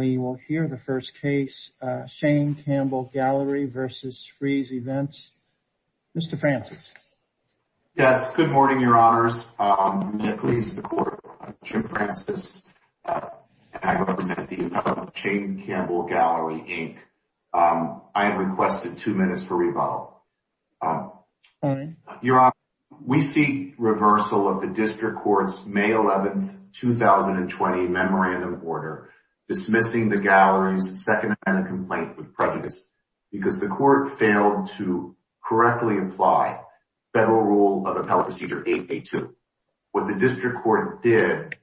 Shane Campbell Gallery, Inc. v. Frieze Events, Inc. I am pleased to report that I am Jim Francis, and I represent the Appellate Procedure Board of Shane Campbell Gallery, Inc. I have requested two minutes for rebuttal. Your Honor, we seek reversal of the District Court's May 11, 2020 memorandum order dismissing the Gallery's second-hand complaint with prejudice because the Court failed to correctly apply Federal Rule of Appellate Procedure 8A2. What the District Court did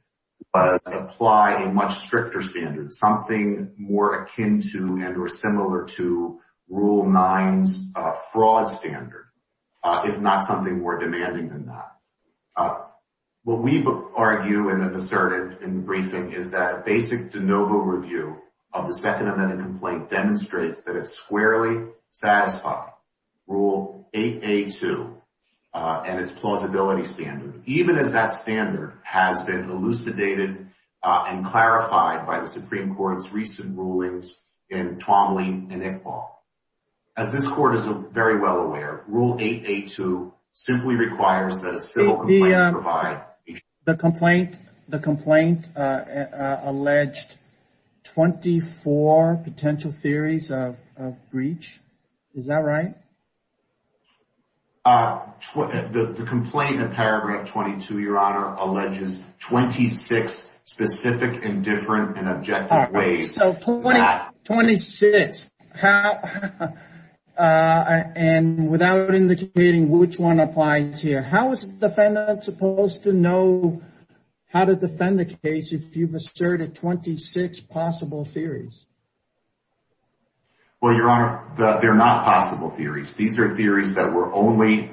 was apply a much stricter standard, something more akin to and or similar to Rule 9's fraud standard, if not something more demanding than that. What we argue and have asserted in the briefing is that a basic de novo review of the second-hand complaint demonstrates that it squarely satisfied Rule 8A2 and its plausibility standard, even as that standard has been elucidated and clarified by the Supreme Court's recent rulings in Twombly and Iqbal. As this Court is very well aware, Rule 8A2 simply requires that a civil complaint provide... The complaint alleged 24 potential theories of breach. Is that right? The complaint in paragraph 22, Your Honor, alleges 26 specific and different and objective ways... So, 26. And without indicating which one applies here, how is the defendant supposed to know how to defend the case if you've asserted 26 possible theories? Well, Your Honor, they're not possible theories. These are theories that were only...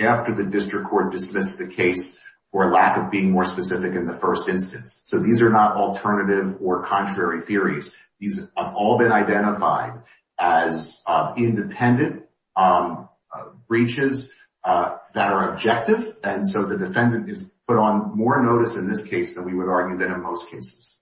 After the district court dismissed the case for lack of being more specific in the first instance. So, these are not alternative or contrary theories. These have all been identified as independent breaches that are objective. And so, the defendant is put on more notice in this case than we would argue that in most cases.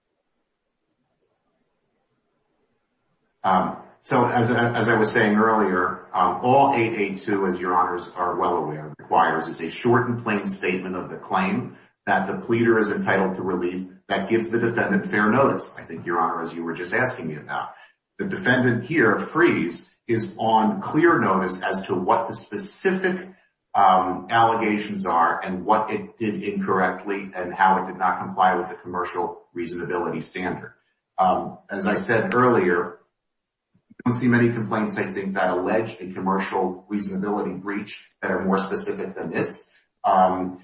So, as I was saying earlier, all 8A2, as Your Honors are well aware, requires is a short and plain statement of the claim that the pleader is entitled to relief that gives the defendant fair notice, I think, Your Honor, as you were just asking me about. The defendant here, Freeze, is on clear notice as to what the specific allegations are and what it did incorrectly and how it did not comply with the commercial reasonability standard. As I said earlier, I don't see many complaints, I think, that allege a commercial reasonability breach that are more specific than this. And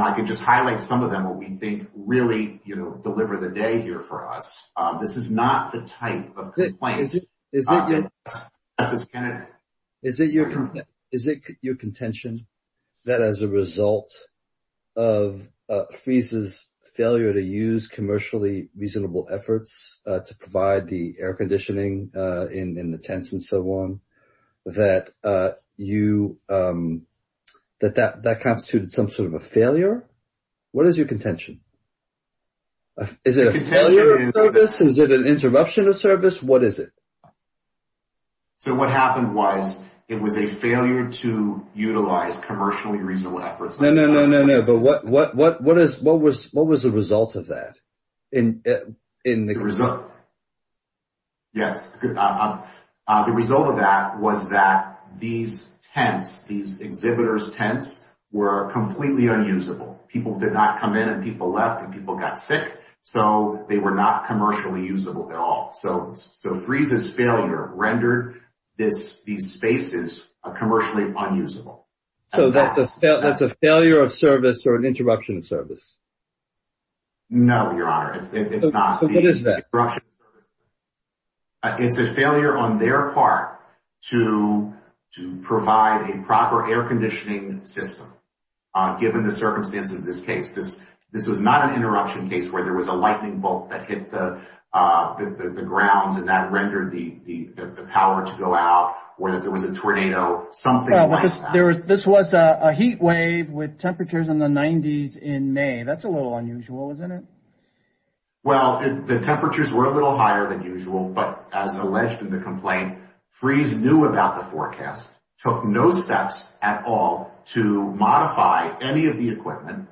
I can just highlight some of them that we think really deliver the day here for us. This is not the type of complaint... Is it your contention that as a result of Freeze's failure to use commercially reasonable efforts to provide the air conditioning in the tents and so on, that that constituted some sort of a failure? What is your contention? Is it a failure of service? Is it an interruption of service? What is it? So, what happened was it was a failure to utilize commercially reasonable efforts. No, no, no, no, no. But what was the result of that? The result of that was that these tents, these exhibitors' tents, were completely unusable. People did not come in and people left and people got sick, so they were not commercially usable at all. So, Freeze's failure rendered these spaces commercially unusable. So, that's a failure of service or an interruption of service? No, Your Honor. It's not. So, what is that? It's an interruption of service. It's a failure on their part to provide a proper air conditioning system given the circumstances of this case. This was not an interruption case where there was a lightning bolt that hit the grounds and that rendered the power to go out or that there was a tornado, something like that. This was a heat wave with temperatures in the 90s in May. That's a little unusual, isn't it? Well, the temperatures were a little higher than usual, but as alleged in the complaint, Freeze knew about the forecast, took no steps at all to modify any of the equipment,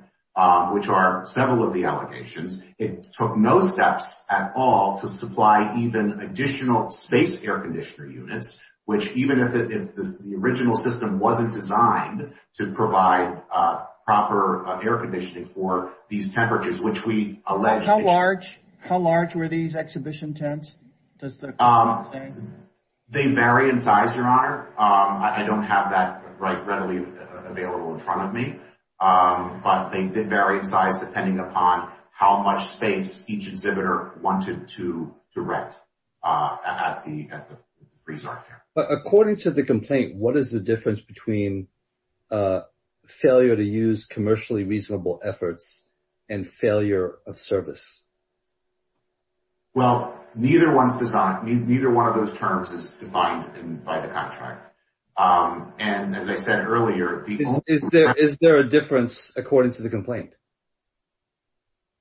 which are several of the allegations. It took no steps at all to supply even additional space air conditioner units, which even if the original system wasn't designed to provide proper air conditioning for these temperatures, which we allege… How large were these exhibition tents, does the complaint say? They vary in size, Your Honor. I don't have that readily available in front of me. But they did vary in size depending upon how much space each exhibitor wanted to direct at the resort. But according to the complaint, what is the difference between failure to use commercially reasonable efforts and failure of service? Well, neither one of those terms is defined by the contract. And as I said earlier… Is there a difference according to the complaint?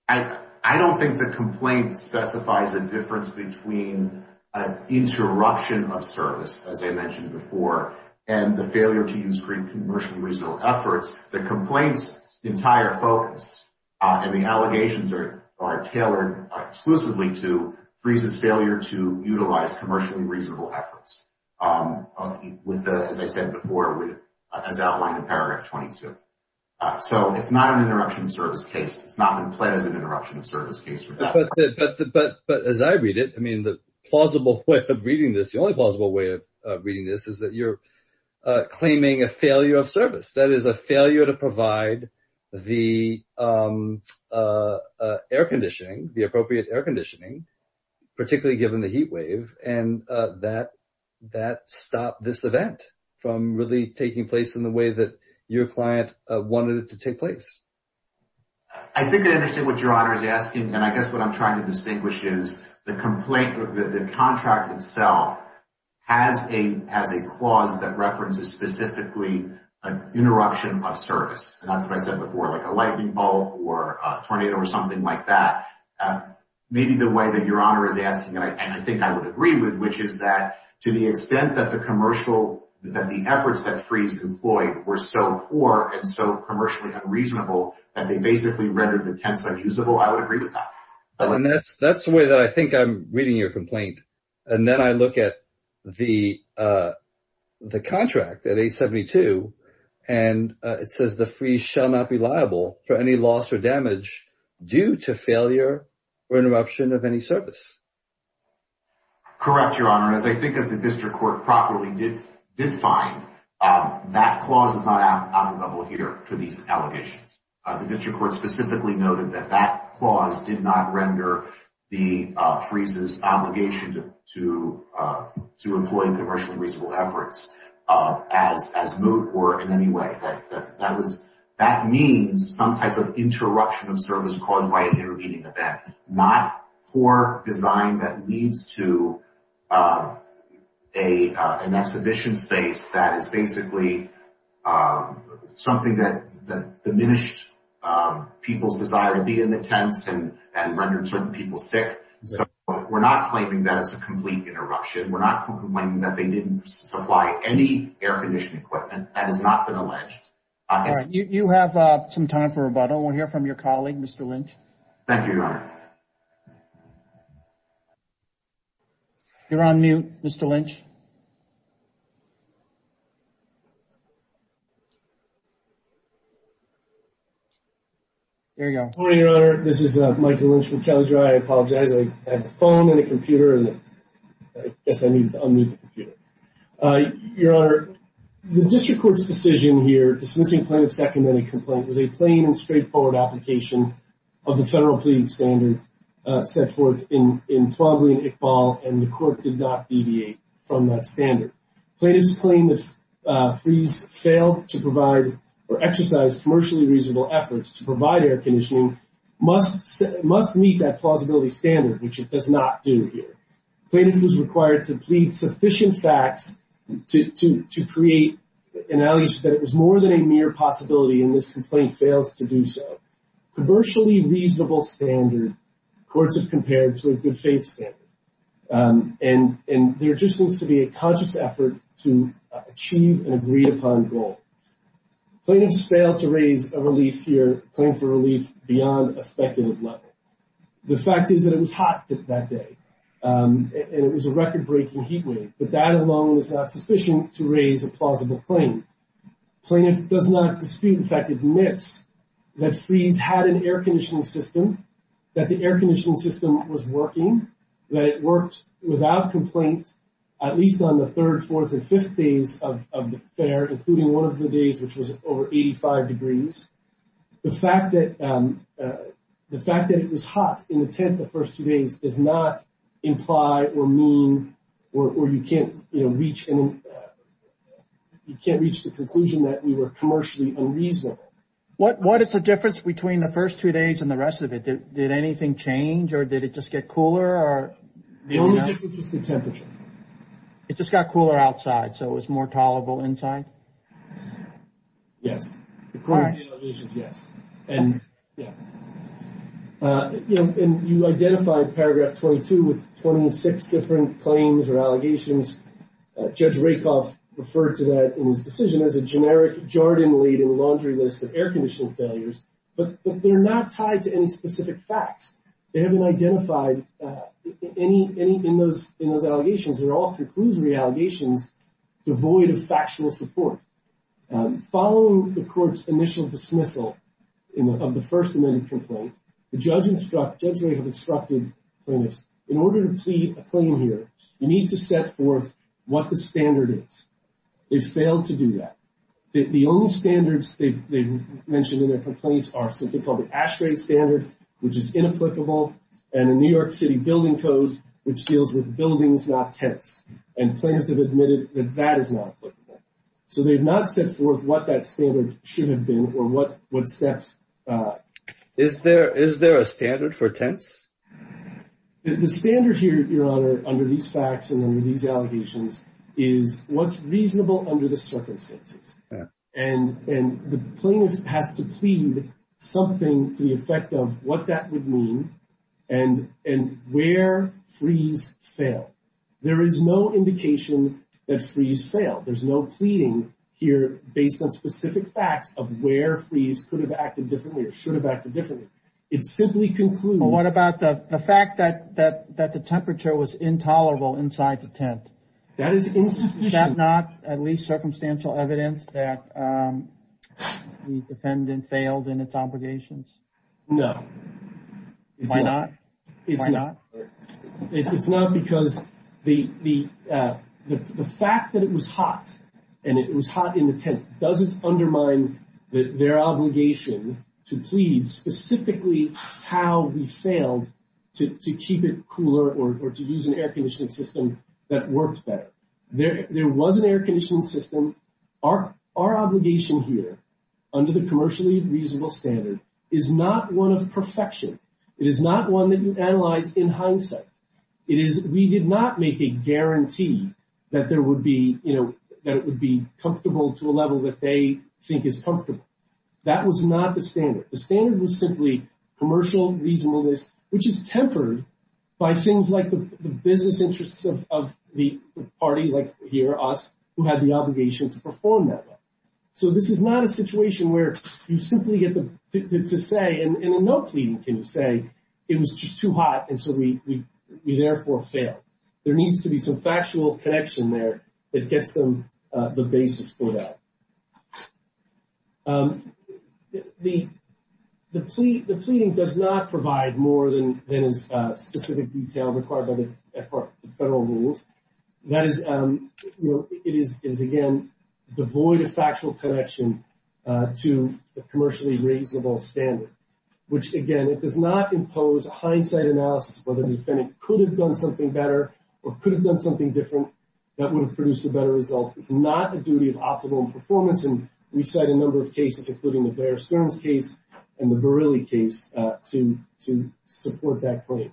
I don't think the complaint specifies a difference between an interruption of service, as I mentioned before, and the failure to use commercially reasonable efforts. The complaint's entire focus and the allegations are tailored exclusively to Freeze's failure to utilize commercially reasonable efforts. As I said before, as outlined in paragraph 22. So it's not an interruption of service case. It's not been pledged as an interruption of service case. But as I read it, I mean, the plausible way of reading this, the only plausible way of reading this is that you're claiming a failure of service. That is a failure to provide the air conditioning, the appropriate air conditioning, particularly given the heat wave. And that stopped this event from really taking place in the way that your client wanted it to take place. I think I understand what Your Honor is asking. And I guess what I'm trying to distinguish is the complaint, the contract itself, has a clause that references specifically an interruption of service. And that's what I said before, like a lightning bolt or a tornado or something like that. Maybe the way that Your Honor is asking, and I think I would agree with, which is that to the extent that the commercial… were so poor and so commercially unreasonable that they basically rendered the tents unusable, I would agree with that. And that's the way that I think I'm reading your complaint. And then I look at the contract at 872, and it says the freeze shall not be liable for any loss or damage due to failure or interruption of any service. Correct, Your Honor. As I think as the district court properly did find, that clause is not out of the bubble here for these allegations. The district court specifically noted that that clause did not render the freeze's obligation to employ commercially reasonable efforts as moot or in any way. That means some type of interruption of service caused by an intervening event, not poor design that leads to an exhibition space that is basically something that diminished people's desire to be in the tents and rendered certain people sick. So we're not claiming that it's a complete interruption. We're not claiming that they didn't supply any air conditioning equipment. That has not been alleged. All right. You have some time for rebuttal. We'll hear from your colleague, Mr. Lynch. Thank you, Your Honor. You're on mute, Mr. Lynch. There you go. Good morning, Your Honor. This is Michael Lynch from Kelly Dry. I apologize. I had a phone and a computer, and I guess I needed to unmute the computer. Your Honor, the district court's decision here dismissing plaintiff's second minute complaint was a plain and straightforward application of the federal pleading standard set forth in 12A and ICBAL, and the court did not deviate from that standard. Plaintiff's claim that Fries failed to provide or exercise commercially reasonable efforts to provide air conditioning must meet that plausibility standard, which it does not do here. Plaintiff was required to plead sufficient facts to create an allegation that it was more than a mere possibility, and this complaint fails to do so. Commercially reasonable standard courts have compared to a good faith standard, and there just needs to be a conscious effort to achieve an agreed-upon goal. Plaintiff's failed to raise a claim for relief beyond a speculative level. The fact is that it was hot that day, and it was a record-breaking heat wave, but that alone is not sufficient to raise a plausible claim. Plaintiff does not dispute, in fact, admits that Fries had an air conditioning system, that the air conditioning system was working, that it worked without complaint at least on the third, fourth, and fifth days of the fair, including one of the days which was over 85 degrees. The fact that it was hot in the first two days does not imply or mean, or you can't reach the conclusion that we were commercially unreasonable. What is the difference between the first two days and the rest of it? Did anything change, or did it just get cooler? The only difference was the temperature. It just got cooler outside, so it was more tolerable inside? Yes. According to the allegations, yes. And you identified paragraph 22 with 26 different claims or allegations. Judge Rakoff referred to that in his decision as a generic jarred and laden laundry list of air conditioning failures, but they're not tied to any specific facts. They haven't identified any in those allegations. They're all conclusory allegations devoid of factional support. Following the court's initial dismissal of the First Amendment complaint, the judge instructed plaintiffs, in order to plead a claim here, you need to set forth what the standard is. They failed to do that. The only standards they mentioned in their complaints are something called the ASHRAE standard, which is inapplicable, and the New York City Building Code, which deals with buildings, not tents. And plaintiffs have admitted that that is not applicable. So they have not set forth what that standard should have been or what steps. Is there a standard for tents? The standard here, Your Honor, under these facts and under these allegations, is what's reasonable under the circumstances. And the plaintiff has to plead something to the effect of what that would mean and where freeze failed. There is no indication that freeze failed. There's no pleading here based on specific facts of where freeze could have acted differently or should have acted differently. But what about the fact that the temperature was intolerable inside the tent? That is insufficient. Is that not at least circumstantial evidence that the defendant failed in its obligations? No. Why not? It's not because the fact that it was hot and it was hot in the tent doesn't undermine their obligation to plead specifically how we failed to keep it cooler or to use an air conditioning system that works better. There was an air conditioning system. Our obligation here under the commercially reasonable standard is not one of perfection. It is not one that you analyze in hindsight. It is we did not make a guarantee that there would be, you know, that it would be comfortable to a level that they think is comfortable. That was not the standard. The standard was simply commercial reasonableness, which is tempered by things like the business interests of the party like here, us, who had the obligation to perform that way. So this is not a situation where you simply get to say, and in no pleading can you say, it was just too hot and so we therefore failed. There needs to be some factual connection there that gets them the basis for that. The pleading does not provide more than is specific detail required by the federal rules. That is, you know, it is, again, devoid of factual connection to the commercially reasonable standard, which, again, it does not impose a hindsight analysis whether the defendant could have done something better or could have done something different that would have produced a better result. It is not a duty of optimal performance. And we said a number of cases, including the Bear Stearns case and the Verrilli case, to support that claim.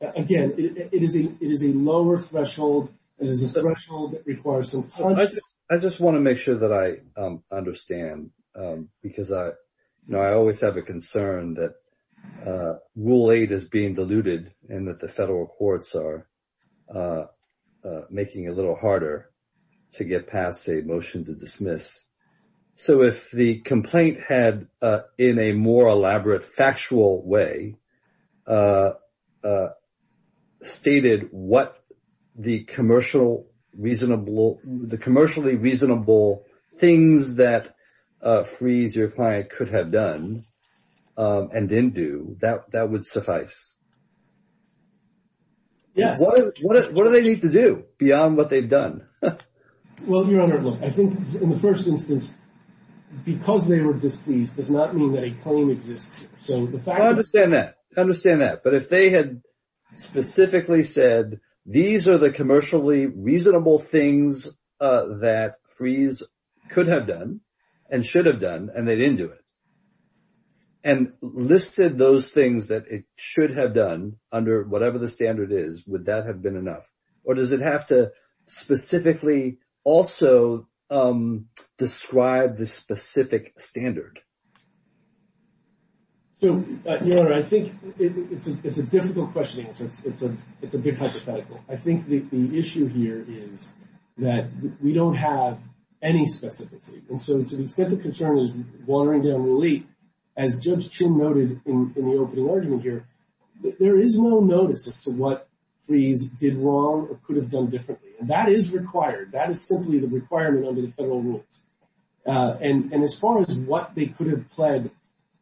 Again, it is a lower threshold. It is a threshold that requires some. I just want to make sure that I understand, because I know I always have a concern that rule eight is being diluted and that the federal courts are making a little harder to get past a motion to dismiss. So if the complaint had, in a more elaborate factual way, stated what the commercially reasonable things that Freese, your client, could have done and didn't do, that would suffice? Yes. What do they need to do beyond what they've done? Well, Your Honor, look, I think, in the first instance, because they were displeased does not mean that a claim exists. So the fact – I understand that. I understand that. But if they had specifically said these are the commercially reasonable things that Freese could have done and should have done and they didn't do it and listed those things that it should have done under whatever the standard is, would that have been enough? Or does it have to specifically also describe the specific standard? So, Your Honor, I think it's a difficult question. It's a big hypothetical. I think the issue here is that we don't have any specificity. And so to the extent the concern is watering down relief, as Judge Chin noted in the opening argument here, there is no notice as to what Freese did wrong or could have done differently. And that is required. That is simply the requirement under the federal rules. And as far as what they could have pled,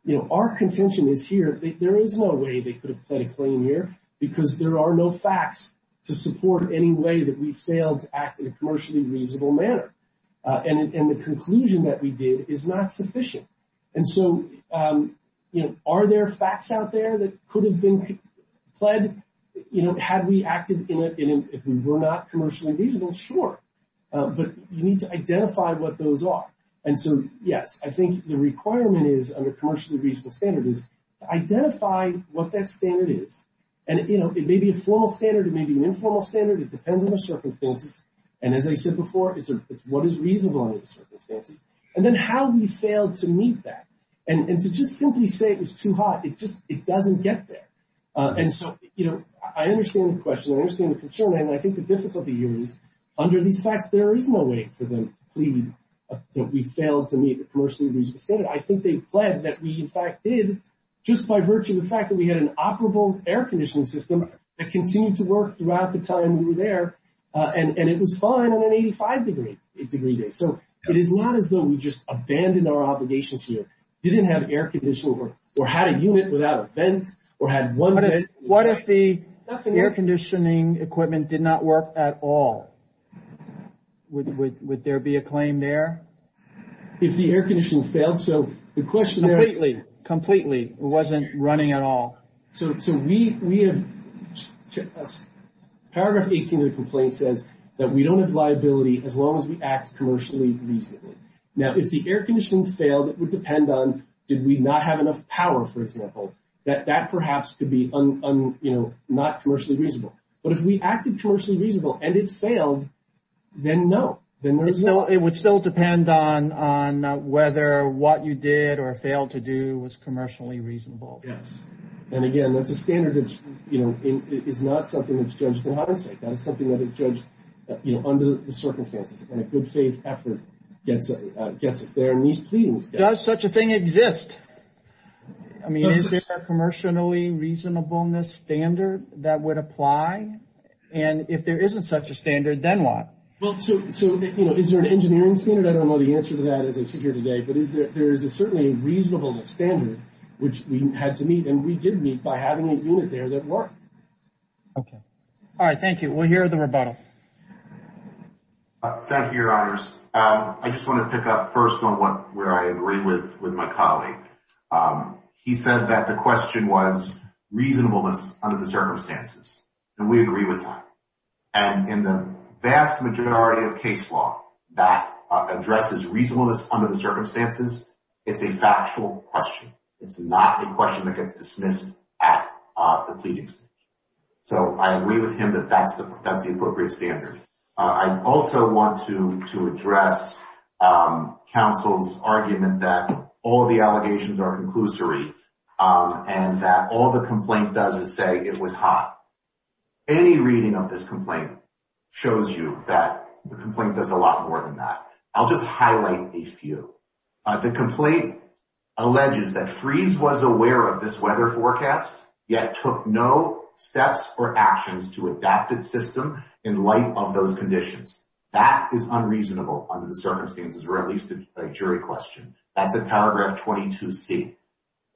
you know, our contention is here that there is no way they could have pled a claim here because there are no facts to support any way that we failed to act in a commercially reasonable manner. And the conclusion that we did is not sufficient. And so, you know, are there facts out there that could have been pled, you know, had we acted in it if we were not commercially reasonable? Sure. But you need to identify what those are. And so, yes, I think the requirement is under commercially reasonable standard is to identify what that standard is. And, you know, it may be a formal standard. It may be an informal standard. It depends on the circumstances. And as I said before, it's what is reasonable under the circumstances. And then how we failed to meet that. And to just simply say it was too hot, it just doesn't get there. And so, you know, I understand the question. I understand the concern. And I think the difficulty here is under these facts, there is no way for them to plead that we failed to meet the commercially reasonable standard. I think they pled that we, in fact, did just by virtue of the fact that we had an operable air conditioning system that continued to work throughout the time we were there. And it was fine on an 85-degree day. So it is not as though we just abandoned our obligations here, didn't have air conditioning or had a unit without a vent or had one vent. What if the air conditioning equipment did not work at all? Would there be a claim there? If the air conditioning failed. So the question there. Completely. Completely. It wasn't running at all. So we have paragraph 18 of the complaint says that we don't have liability as long as we act commercially reasonably. Now, if the air conditioning failed, it would depend on did we not have enough power, for example. That perhaps could be, you know, not commercially reasonable. But if we acted commercially reasonable and it failed, then no. It would still depend on whether what you did or failed to do was commercially reasonable. Yes. And again, that's a standard that is not something that's judged in hindsight. That is something that is judged under the circumstances. And a good faith effort gets us there. Does such a thing exist? I mean, is there a commercially reasonableness standard that would apply? And if there isn't such a standard, then what? Well, so, you know, is there an engineering standard? I don't know the answer to that as I sit here today. But there is certainly a reasonableness standard which we had to meet. And we did meet by having a unit there that worked. Okay. All right. Thank you. We'll hear the rebuttal. Thank you, Your Honors. I just want to pick up first on where I agree with my colleague. He said that the question was reasonableness under the circumstances. And we agree with that. And in the vast majority of case law that addresses reasonableness under the circumstances, it's a factual question. It's not a question that gets dismissed at the pleadings. So I agree with him that that's the appropriate standard. I also want to address counsel's argument that all the allegations are conclusory and that all the complaint does is say it was hot. Any reading of this complaint shows you that the complaint does a lot more than that. I'll just highlight a few. The complaint alleges that Freese was aware of this weather forecast, yet took no steps or actions to adapt its system in light of those conditions. That is unreasonable under the circumstances, or at least a jury question. That's at paragraph 22C.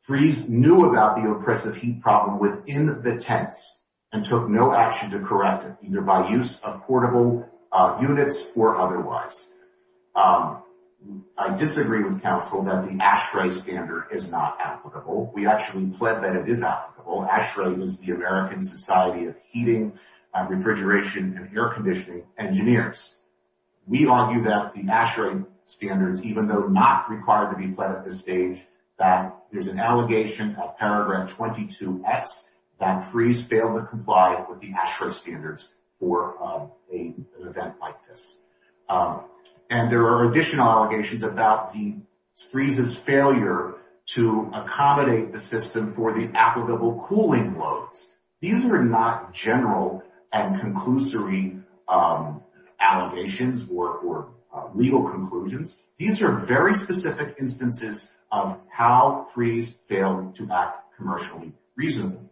Freese knew about the oppressive heat problem within the tents and took no action to correct it, either by use of portable units or otherwise. I disagree with counsel that the ASHRAE standard is not applicable. We actually plead that it is applicable. ASHRAE is the American Society of Heating, Refrigeration, and Air Conditioning Engineers. We argue that the ASHRAE standards, even though not required to be pled at this stage, that there's an allegation at paragraph 22X that Freese failed to comply with the ASHRAE standards for an event like this. And there are additional allegations about Freese's failure to accommodate the system for the applicable cooling loads. These are not general and conclusory allegations or legal conclusions. These are very specific instances of how Freese failed to act commercially reasonably.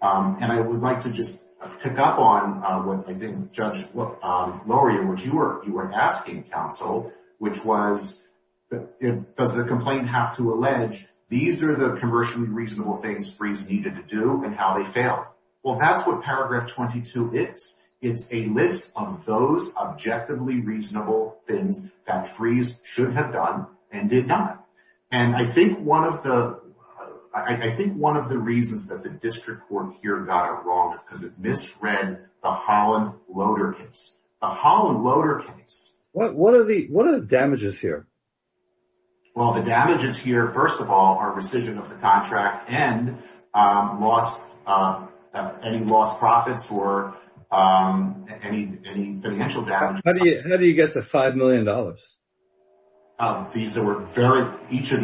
And I would like to just pick up on what I think Judge Loria, which you were asking, counsel, which was, does the complaint have to allege these are the commercially reasonable things and how they fail? Well, that's what paragraph 22 is. It's a list of those objectively reasonable things that Freese should have done and did not. And I think one of the reasons that the district court here got it wrong is because it misread the Holland Loader case. The Holland Loader case. What are the damages here? Well, the damages here, first of all, are rescission of the contract and any lost profits or any financial damage. How do you get to $5 million? Each of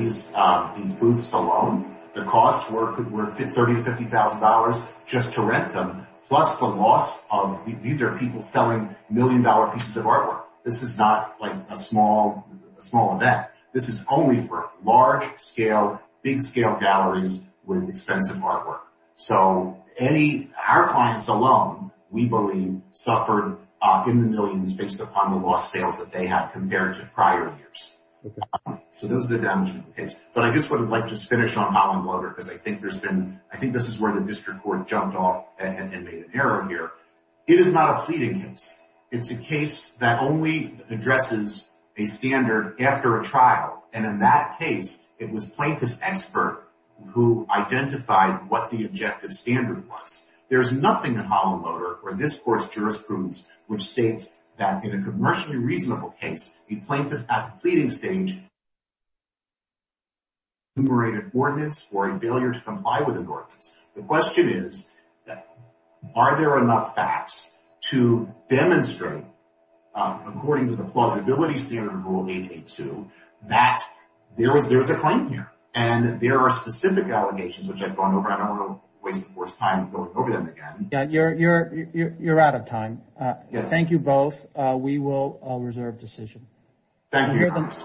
these booths alone, the costs were $30,000 to $50,000 just to rent them, plus the loss of, these are people selling million-dollar pieces of artwork. This is not like a small event. This is only for large-scale, big-scale galleries with expensive artwork. So our clients alone, we believe, suffered in the millions based upon the lost sales that they had compared to prior years. So those are the damages in the case. But I guess I would like to just finish on Holland Loader because I think this is where the district court jumped off and made an error here. It is not a pleading case. It is a case that only addresses a standard after a trial. And in that case, it was a plaintiff's expert who identified what the objective standard was. There is nothing in Holland Loader or in this court's jurisprudence which states that in a commercially reasonable case, a plaintiff at the pleading stage, The question is, are there enough facts to demonstrate, according to the plausibility standard of Rule 882, that there is a claim here? And there are specific allegations which I've gone over. I don't want to waste the court's time going over them again. Yeah, you're out of time. We will reserve decision. Thank you.